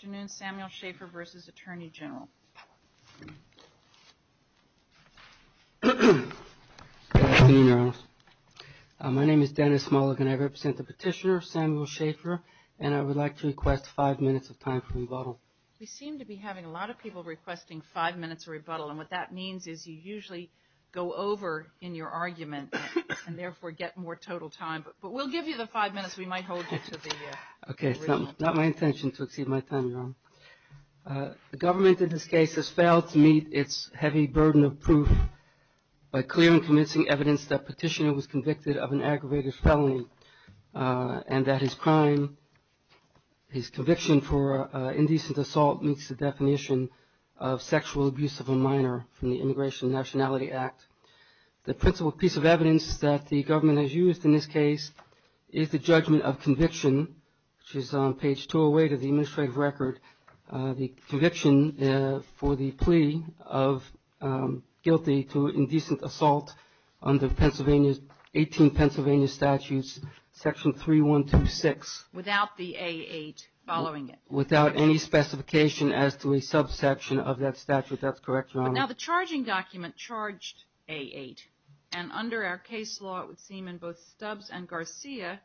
Good afternoon, Samuel Shafer v. Attorney General. My name is Dennis Mulligan. I represent the petitioner, Samuel Shafer, and I would like to request five minutes of time for rebuttal. We seem to be having a lot of people requesting five minutes of rebuttal, and what that means is you usually go over in your argument and, therefore, get more total time. But we'll give you the five minutes. We might hold you to the original time. Okay. It's not my intention to exceed my time, Your Honor. The government in this case has failed to meet its heavy burden of proof by clear and convincing evidence that the petitioner was convicted of an aggravated felony and that his crime, his conviction for indecent assault meets the definition of sexual abuse of a minor from the Immigration and Nationality Act. The principal piece of evidence that the government has used in this case is the judgment of conviction, which is on page 208 of the administrative record. The conviction for the plea of guilty to indecent assault under Pennsylvania's 18 Pennsylvania statutes, section 3126. Without the A8 following it. Without any specification as to a subsection of that statute. That's correct, Your Honor. Now, the charging document charged A8, and under our case law, it would seem in both Stubbs and Garcia,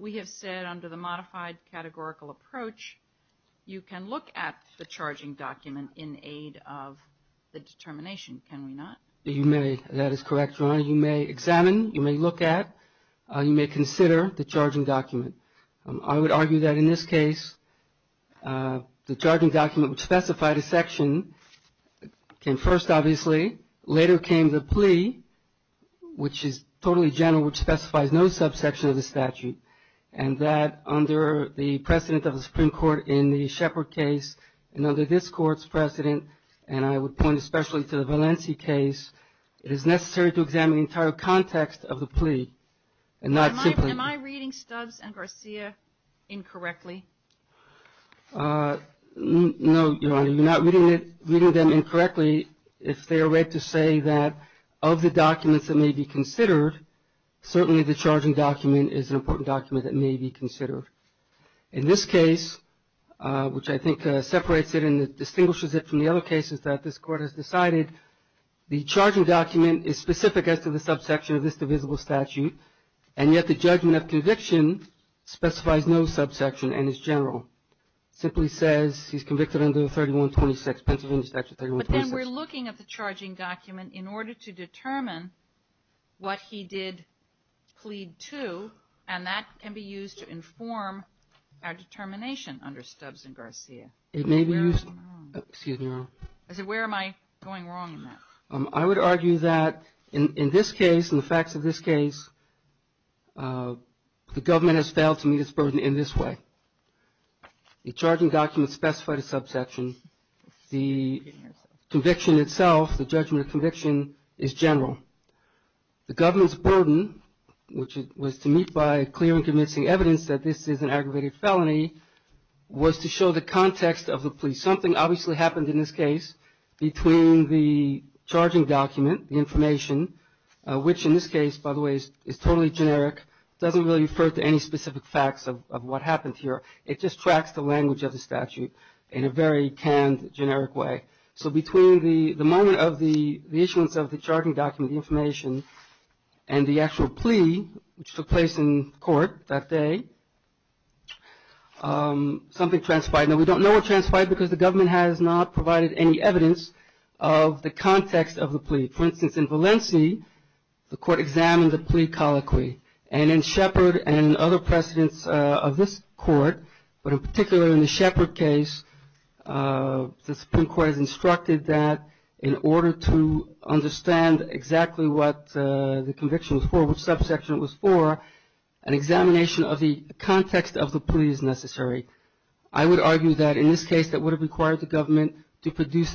we have said under the modified categorical approach, you can look at the charging document in aid of the determination. Can we not? You may. That is correct, Your Honor. You may examine, you may look at, you may consider the charging document. I would argue that in this case, the charging document would specify the section. First, obviously, later came the plea, which is totally general, which specifies no subsection of the statute. And that under the precedent of the Supreme Court in the Shepard case, and under this court's precedent, and I would point especially to the Valencia case, it is necessary to examine the entire context of the plea. Am I reading Stubbs and Garcia incorrectly? No, Your Honor. You're not reading them incorrectly if they are read to say that of the documents that may be considered, certainly the charging document is an important document that may be considered. In this case, which I think separates it and distinguishes it from the other cases that this Court has decided, the charging document is specific as to the subsection of this divisible statute, and yet the judgment of conviction specifies no subsection and is general. It simply says he's convicted under 3126, Pennsylvania Statute 3126. But then we're looking at the charging document in order to determine what he did plead to, and that can be used to inform our determination under Stubbs and Garcia. It may be used. Where am I going wrong? Excuse me, Your Honor. I said, where am I going wrong in that? I would argue that in this case, in the facts of this case, the government has failed to meet its burden in this way. The charging document specified a subsection. The conviction itself, the judgment of conviction, is general. The government's burden, which was to meet by clear and convincing evidence that this is an aggravated felony, was to show the context of the plea. Something obviously happened in this case between the charging document, the information, which in this case, by the way, is totally generic. It doesn't really refer to any specific facts of what happened here. It just tracks the language of the statute in a very canned, generic way. So between the moment of the issuance of the charging document, the information, and the actual plea, which took place in court that day, something transpired. Now, we don't know what transpired because the government has not provided any evidence of the context of the plea. For instance, in Valencia, the court examined the plea colloquy. And in Shepard and other precedents of this court, but in particular in the Shepard case, the Supreme Court has instructed that in order to understand exactly what the conviction was for, which subsection it was for, an examination of the context of the plea is necessary. I would argue that in this case, that would have required the government to produce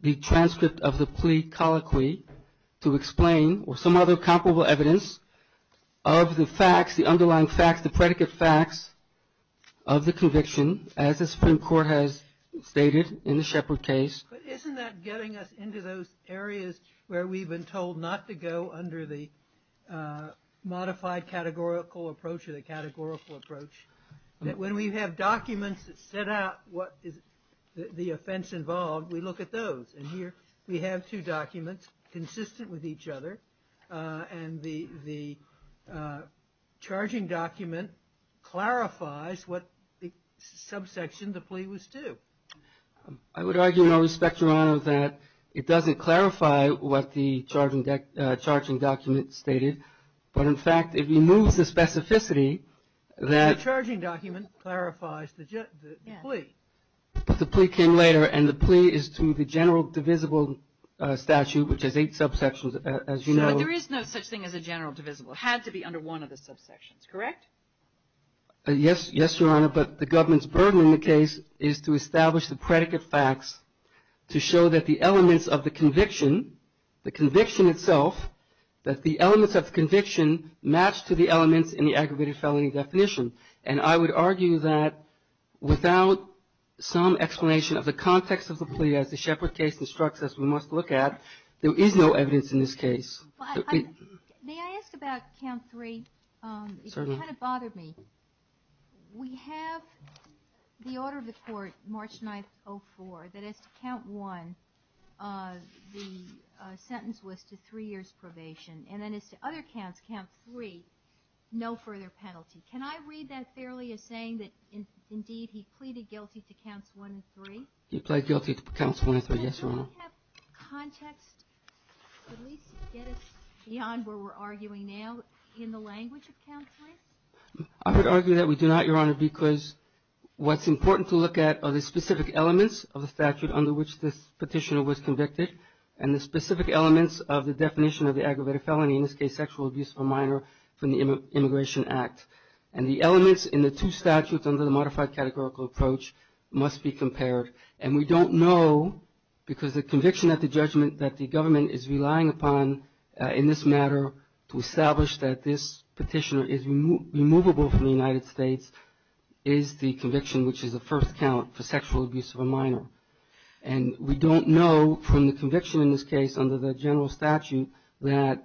the transcript of the plea colloquy to explain or some other comparable evidence of the facts, the underlying facts, the predicate facts of the conviction, as the Supreme Court has stated in the Shepard case. But isn't that getting us into those areas where we've been told not to go under the modified categorical approach or the categorical approach, that when we have documents that set out what is the offense involved, we look at those. And here we have two documents consistent with each other, and the charging document clarifies what subsection the plea was to. I would argue, and I respect your honor, that it doesn't clarify what the charging document stated. But in fact, it removes the specificity that. The charging document clarifies the plea. But the plea came later, and the plea is to the general divisible statute, which has eight subsections, as you know. Sure, but there is no such thing as a general divisible. It had to be under one of the subsections, correct? Yes, Your Honor, but the government's burden in the case is to establish the predicate facts to show that the elements of the conviction, the conviction itself, that the elements of the conviction match to the elements in the aggravated felony definition. And I would argue that without some explanation of the context of the plea, as the Shepard case instructs us we must look at, there is no evidence in this case. May I ask about count three? Certainly. It kind of bothered me. We have the order of the court, March 9th, 2004, that as to count one, the sentence was to three years' probation. And then as to other counts, count three, no further penalty. Can I read that fairly as saying that indeed he pleaded guilty to counts one and three? He pleaded guilty to counts one and three, yes, Your Honor. Do we have context to at least get us beyond where we're arguing now in the language of count three? I would argue that we do not, Your Honor, because what's important to look at are the specific elements of the statute under which this petitioner was convicted and the specific elements of the definition of the aggravated felony, in this case sexual abuse of a minor from the Immigration Act. And the elements in the two statutes under the modified categorical approach must be compared. And we don't know because the conviction at the judgment that the government is relying upon in this matter to establish that this petitioner is removable from the United States is the conviction, which is the first count for sexual abuse of a minor. And we don't know from the conviction in this case under the general statute that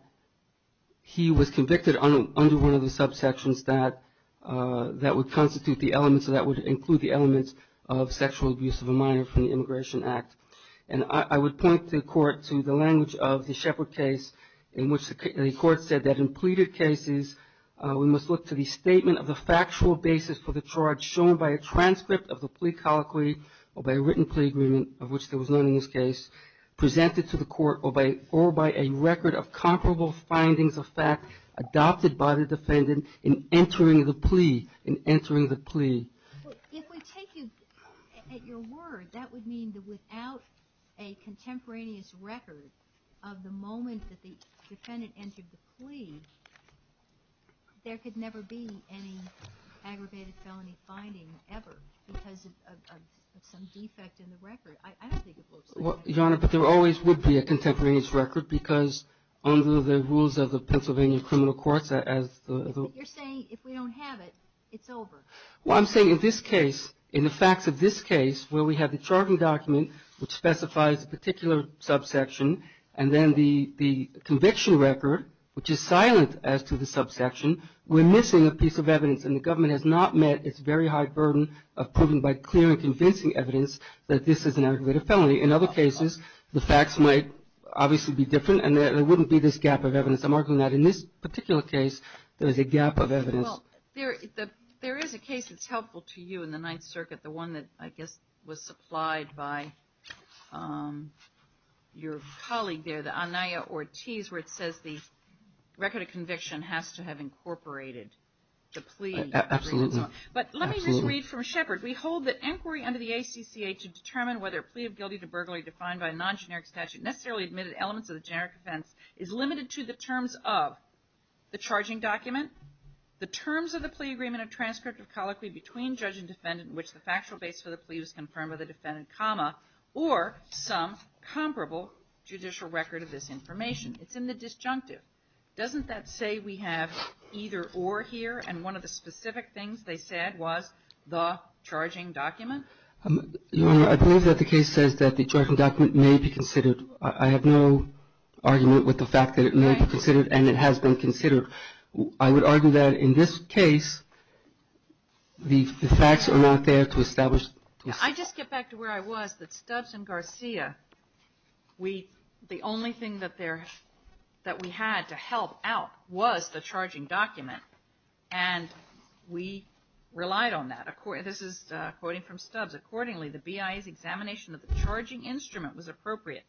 he was convicted under one of the subsections that would constitute the elements or that would include the elements of sexual abuse of a minor from the Immigration Act. And I would point the Court to the language of the Shepard case in which the Court said that in pleaded cases, we must look to the statement of the factual basis for the charge shown by a transcript of the plea colloquy or by a written plea agreement of which there was none in this case, presented to the Court or by a record of comparable findings of fact adopted by the defendant in entering the plea, in entering the plea. If we take you at your word, that would mean that without a contemporaneous record of the moment that the defendant entered the plea, there could never be any aggravated felony finding ever because of some defect in the record. I don't think it looks like that. Your Honor, but there always would be a contemporaneous record because under the rules of the Pennsylvania Criminal Courts as the... But you're saying if we don't have it, it's over. Well, I'm saying in this case, in the facts of this case where we have the charging document which specifies a particular subsection and then the conviction record which is silent as to the subsection, we're missing a piece of evidence and the government has not met its very high burden of proving by clear and convincing evidence that this is an aggravated felony. In other cases, the facts might obviously be different and there wouldn't be this gap of evidence. I'm arguing that in this particular case, there is a gap of evidence. Well, there is a case that's helpful to you in the Ninth Circuit, the one that I guess was supplied by your colleague there, the Anaya Ortiz where it says the record of conviction has to have incorporated the plea. Absolutely. But let me just read from Shepard. We hold that inquiry under the ACCA to determine whether a plea of guilty to burglary defined by a non-generic statute necessarily admitted elements of the generic offense is limited to the terms of the charging document, the terms of the plea agreement or transcript of colloquy between judge and defendant in which the factual base for the plea was confirmed by the defendant, comma, or some comparable judicial record of this information. It's in the disjunctive. Doesn't that say we have either or here? And one of the specific things they said was the charging document? Your Honor, I believe that the case says that the charging document may be considered. I have no argument with the fact that it may be considered and it has been considered. I would argue that in this case, the facts are not there to establish. I just get back to where I was, that Stubbs and Garcia, the only thing that we had to help out was the charging document and we relied on that. This is quoting from Stubbs. Accordingly, the BIA's examination of the charging instrument was appropriate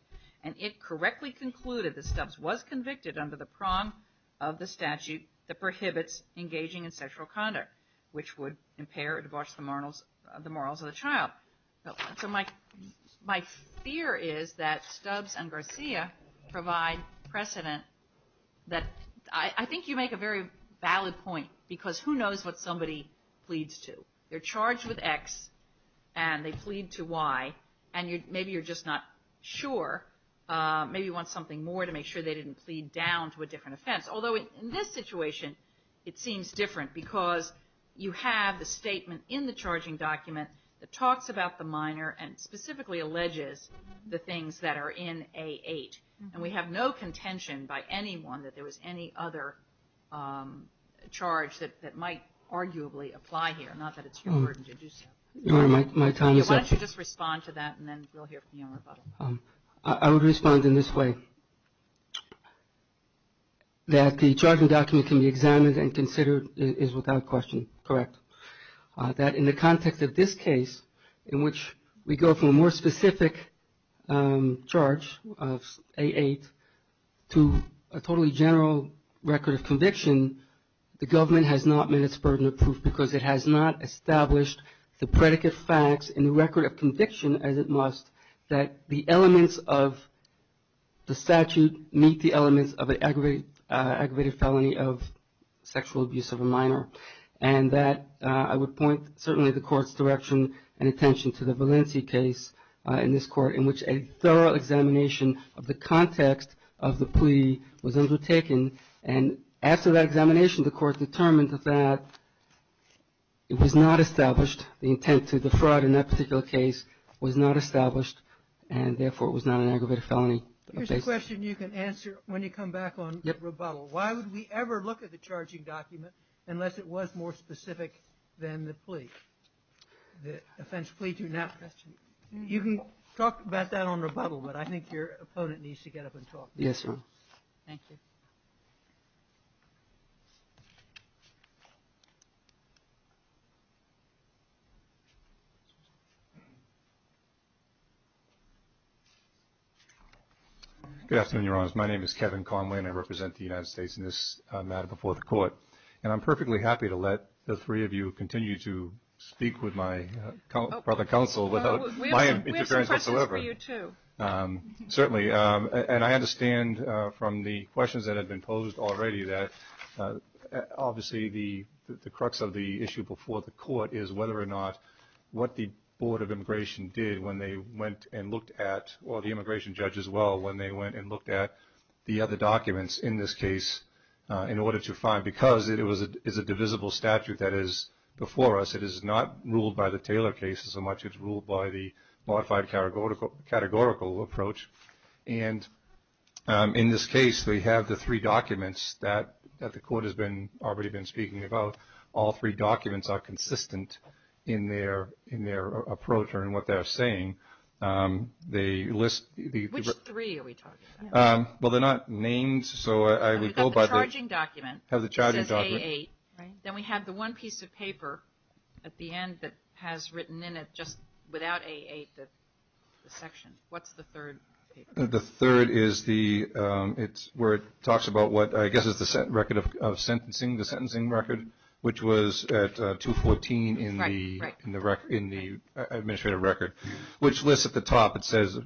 and it correctly concluded that Stubbs was convicted under the prong of the statute that prohibits engaging in sexual conduct, which would impair or debauch the morals of the child. So my fear is that Stubbs and Garcia provide precedent that I think you make a very valid point because who knows what somebody pleads to. They're charged with X and they plead to Y and maybe you're just not sure. Maybe you want something more to make sure they didn't plead down to a different offense. Although in this situation, it seems different because you have the statement in the charging document that talks about the minor and specifically alleges the things that are in A8. And we have no contention by anyone that there was any other charge that might arguably apply here, not that it's your burden to do so. Why don't you just respond to that and then we'll hear from you in rebuttal. I would respond in this way. That the charging document can be examined and considered is without question correct. That in the context of this case in which we go from a more specific charge of A8 to a totally general record of conviction, the government has not met its burden of proof because it has not established the predicate facts in the record of conviction as it must that the elements of the statute meet the elements of an aggravated felony of sexual abuse of a minor. And that I would point certainly the court's direction and attention to the Valencia case in this court in which a thorough examination of the context of the plea was undertaken. And after that examination, the court determined that it was not established. The intent to defraud in that particular case was not established and therefore it was not an aggravated felony. Here's a question you can answer when you come back on rebuttal. Why would we ever look at the charging document unless it was more specific than the plea? The offense plea to not question. You can talk about that on rebuttal, but I think your opponent needs to get up and talk. Yes, ma'am. Thank you. Good afternoon, Your Honors. My name is Kevin Conway and I represent the United States in this matter before the court. And I'm perfectly happy to let the three of you continue to speak with my brother counsel without my interference. We have some questions for you, too. Certainly. And I understand from the questions that have been posed already that obviously the crux of the issue before the court is whether or not what the Board of Immigration did when they went and looked at, or the immigration judge as well, when they went and looked at the other documents in this case in order to find, because it is a divisible statute that is before us. It is not ruled by the Taylor case so much as it is ruled by the modified categorical approach. And in this case, we have the three documents that the court has already been speaking about. All three documents are consistent in their approach or in what they're saying. Which three are we talking about? Well, they're not names, so I would go by the charging document. We have the charging document. It says A8. Then we have the one piece of paper at the end that has written in it, just without A8, the section. What's the third paper? The third is where it talks about what I guess is the record of sentencing, the sentencing record, which was at 214 in the administrative record, which lists at the top. It says,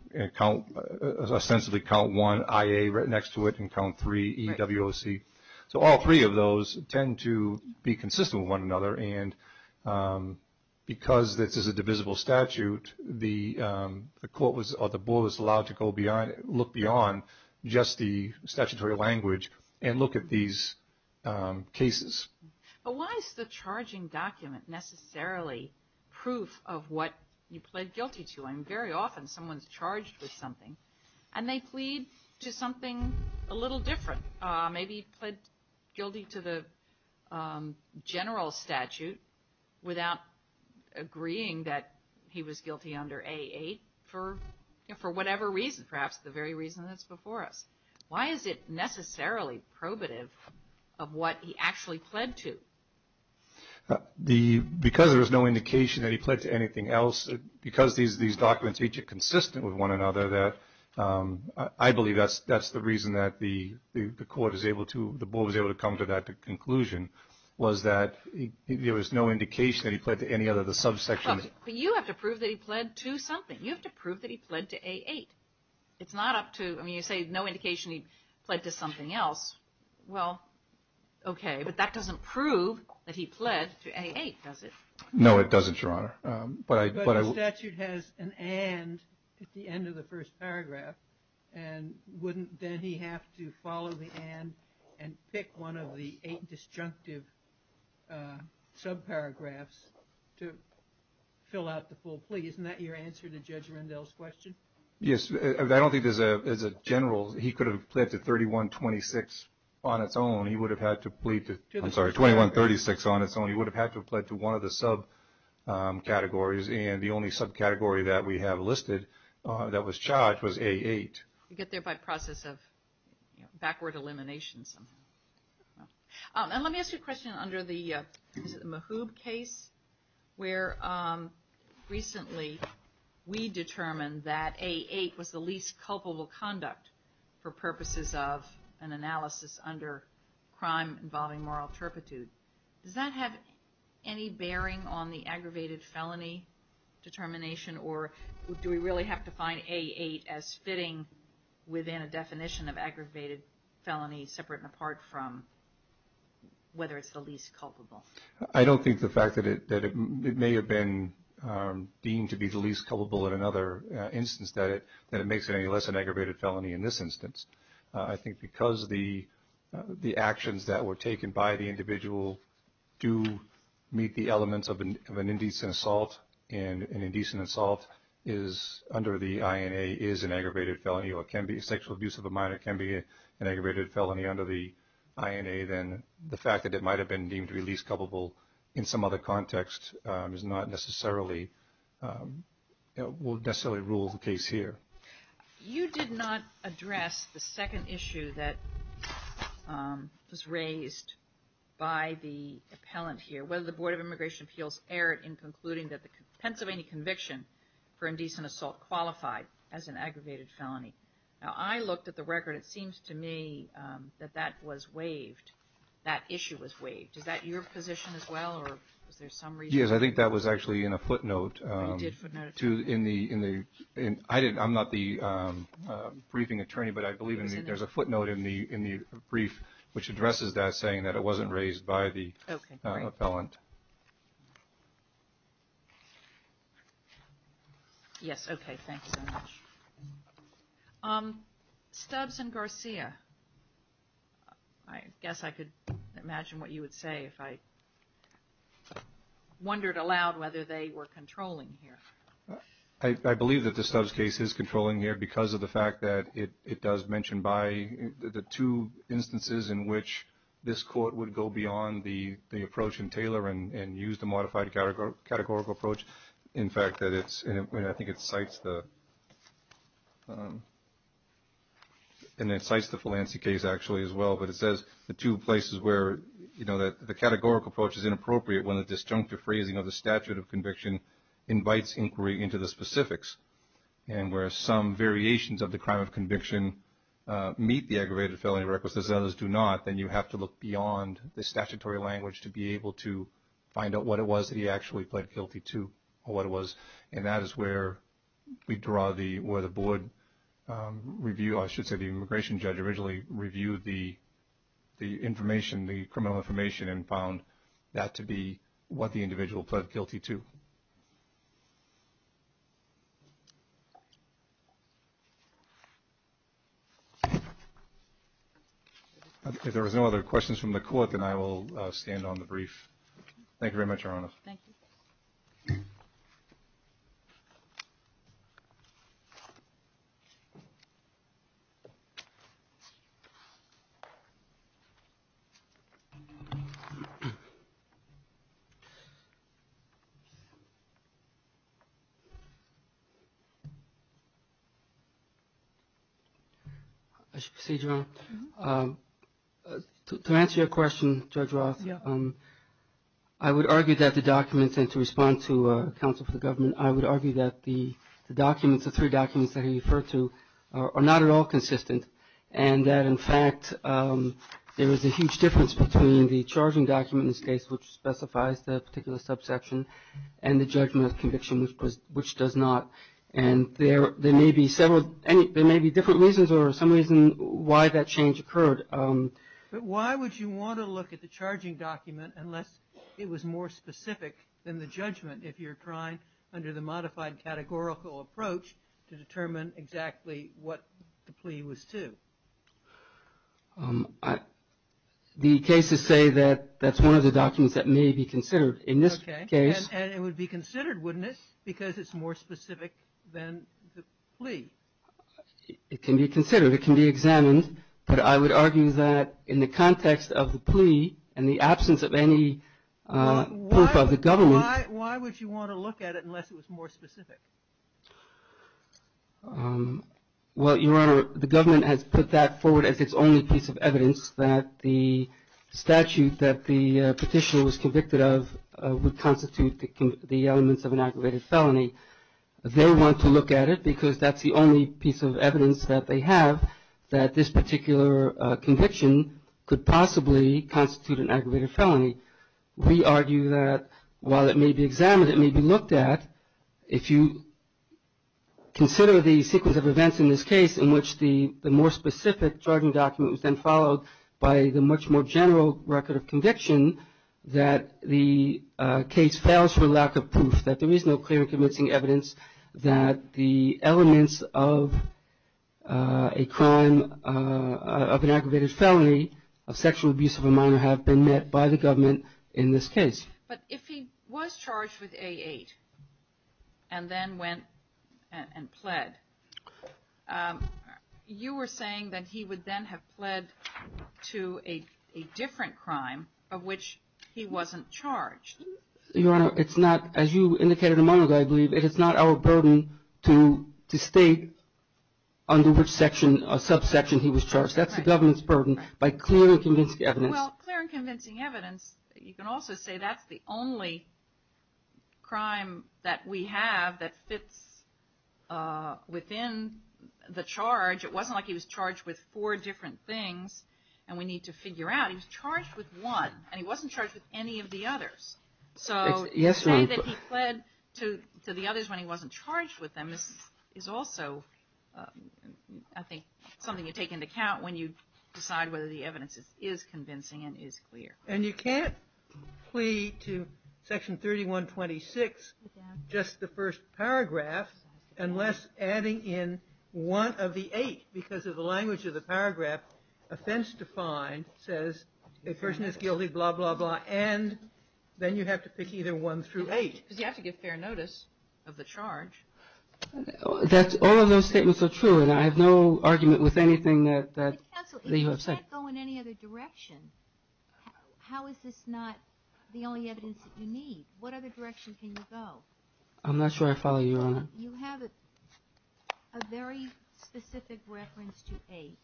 ostensibly, count one, IA, right next to it, and count three, EWOC. So all three of those tend to be consistent with one another. And because this is a divisible statute, the court was allowed to go beyond, look beyond just the statutory language and look at these cases. But why is the charging document necessarily proof of what you pled guilty to? I mean, very often someone's charged with something, and they plead to something a little different, maybe pled guilty to the general statute without agreeing that he was guilty under A8, for whatever reason, perhaps the very reason that's before us. Why is it necessarily probative of what he actually pled to? Because there was no indication that he pled to anything else, because these documents are consistent with one another, I believe that's the reason that the court was able to come to that conclusion, was that there was no indication that he pled to any of the subsections. But you have to prove that he pled to something. You have to prove that he pled to A8. It's not up to, I mean, you say no indication he pled to something else. Well, okay, but that doesn't prove that he pled to A8, does it? No, it doesn't, Your Honor. But the statute has an and at the end of the first paragraph, and wouldn't then he have to follow the and and pick one of the eight disjunctive subparagraphs to fill out the full plea? Isn't that your answer to Judge Rendell's question? Yes, I don't think as a general he could have pled to 3126 on its own. He would have had to plead to, I'm sorry, 2136 on its own. He would have had to have pled to one of the subcategories, and the only subcategory that we have listed that was charged was A8. You get there by process of backward elimination. And let me ask you a question under the Mahoub case, where recently we determined that A8 was the least culpable conduct for purposes of an analysis under crime involving moral turpitude. Does that have any bearing on the aggravated felony determination, or do we really have to find A8 as fitting within a definition of aggravated felony separate and apart from whether it's the least culpable? I don't think the fact that it may have been deemed to be the least culpable in another instance, that it makes it any less an aggravated felony in this instance. I think because the actions that were taken by the individual do meet the elements of an indecent assault, and an indecent assault under the INA is an aggravated felony or can be sexual abuse of a minor, can be an aggravated felony under the INA, then the fact that it might have been deemed to be least culpable in some other context is not necessarily, will necessarily rule the case here. You did not address the second issue that was raised by the appellant here, whether the Board of Immigration Appeals erred in concluding that the Pennsylvania conviction for indecent assault qualified as an aggravated felony. Now, I looked at the record. It seems to me that that was waived, that issue was waived. Is that your position as well, or was there some reason? Yes, I think that was actually in a footnote. I'm not the briefing attorney, but I believe there's a footnote in the brief, which addresses that saying that it wasn't raised by the appellant. Yes, okay, thanks so much. Stubbs and Garcia, I guess I could imagine what you would say if I wondered aloud whether they were controlling here. I believe that the Stubbs case is controlling here because of the fact that it does mention by the two instances in which this court would go beyond the approach in Taylor and use the modified categorical approach. In fact, I think it cites the Phelancy case actually as well, but it says the two places where the categorical approach is inappropriate when the disjunctive phrasing of the statute of conviction invites inquiry into the specifics. And where some variations of the crime of conviction meet the aggravated felony requisites and others do not, then you have to look beyond the statutory language to be able to find out what it was that he actually pled guilty to or what it was. And that is where we draw the board review. I should say the immigration judge originally reviewed the information, the criminal information, and found that to be what the individual pled guilty to. If there are no other questions from the court, then I will stand on the brief. Thank you very much, Your Honor. Thank you. I should proceed, Your Honor. To answer your question, Judge Roth, I would argue that the documents, and to respond to counsel for the government, I would argue that the documents, the three documents that he referred to, are not at all consistent and that, in fact, there is a huge difference between the charging document in this case, which specifies the particular subsection, and the judgment of conviction, which does not. And there may be several, there may be different reasons or some reason why that change occurred. But why would you want to look at the charging document unless it was more specific than the judgment if you're trying under the modified categorical approach to determine exactly what the plea was to? The cases say that that's one of the documents that may be considered in this case. Okay. And it would be considered, wouldn't it, because it's more specific than the plea? It can be considered. It can be examined. But I would argue that in the context of the plea and the absence of any proof of the government. Why would you want to look at it unless it was more specific? Well, Your Honor, the government has put that forward as its only piece of evidence that the statute that the petitioner was convicted of would constitute the elements of an aggravated felony. They want to look at it because that's the only piece of evidence that they have that this particular conviction could possibly constitute an aggravated felony. We argue that while it may be examined, it may be looked at. If you consider the sequence of events in this case in which the more specific charging document was then followed by the much more general record of conviction, that the case fails for lack of proof, that there is no clear and convincing evidence that the elements of a crime of an aggravated felony, of sexual abuse of a minor, have been met by the government in this case. But if he was charged with A8 and then went and pled, you were saying that he would then have pled to a different crime of which he wasn't charged. Your Honor, it's not, as you indicated a moment ago, I believe, it is not our burden to state under which subsection he was charged. That's the government's burden by clear and convincing evidence. Well, clear and convincing evidence, you can also say that's the only crime that we have that fits within the charge. It wasn't like he was charged with four different things and we need to figure out. He was charged with one and he wasn't charged with any of the others. So to say that he pled to the others when he wasn't charged with them is also, I think, something you take into account when you decide whether the evidence is convincing and is clear. And you can't plead to Section 3126, just the first paragraph, unless adding in one of the eight. Because of the language of the paragraph, offense defined says a person is guilty, blah, blah, blah, and then you have to pick either one through eight. Because you have to give fair notice of the charge. All of those statements are true and I have no argument with anything that you have said. Counsel, if you can't go in any other direction, how is this not the only evidence that you need? What other direction can you go? I'm not sure I follow you, Your Honor. You have a very specific reference to eight.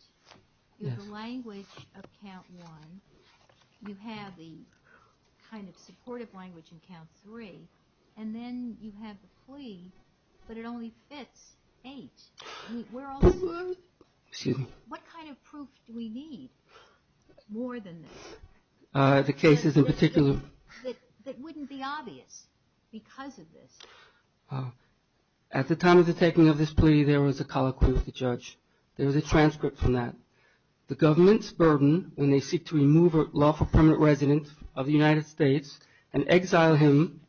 You have the language of count one. You have the kind of supportive language in count three. And then you have the plea, but it only fits eight. What kind of proof do we need more than this? The cases in particular. That wouldn't be obvious because of this. At the time of the taking of this plea, there was a colloquy of the judge. There was a transcript from that. The government's burden when they seek to remove a lawful permanent resident of the United States and exile him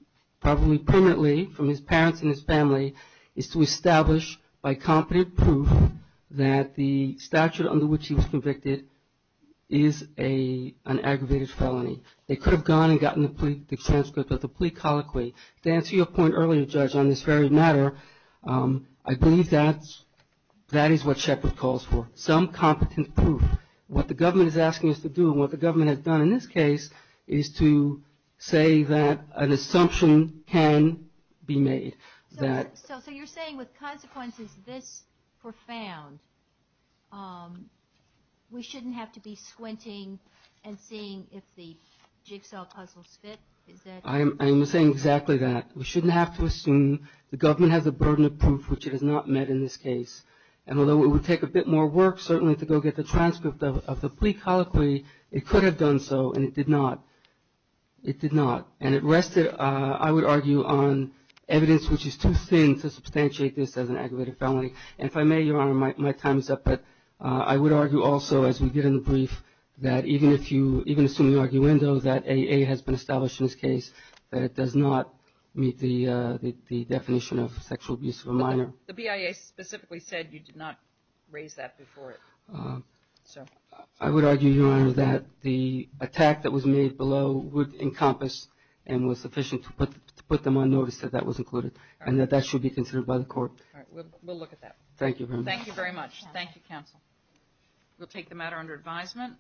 probably permanently from his parents and his family is to establish by competent proof that the statute under which he was convicted is an aggravated felony. They could have gone and gotten the transcript of the plea colloquy. To answer your point earlier, Judge, on this very matter, I believe that is what Shepard calls for. Some competent proof. What the government is asking us to do and what the government has done in this case is to say that an assumption can be made. So you're saying with consequences this profound, we shouldn't have to be squinting and seeing if the jigsaw puzzles fit? I am saying exactly that. We shouldn't have to assume the government has a burden of proof which it has not met in this case. And although it would take a bit more work certainly to go get the transcript of the plea colloquy, it could have done so, and it did not. It did not. And it rested, I would argue, on evidence which is too thin to substantiate this as an aggravated felony. And if I may, Your Honor, my time is up. But I would argue also, as we did in the brief, that even assuming the arguendo that AA has been established in this case, The BIA specifically said you did not raise that before. I would argue, Your Honor, that the attack that was made below would encompass and was sufficient to put them on notice that that was included and that that should be considered by the court. We'll look at that. Thank you very much. Thank you very much. Thank you, counsel. We'll take the matter under advisement.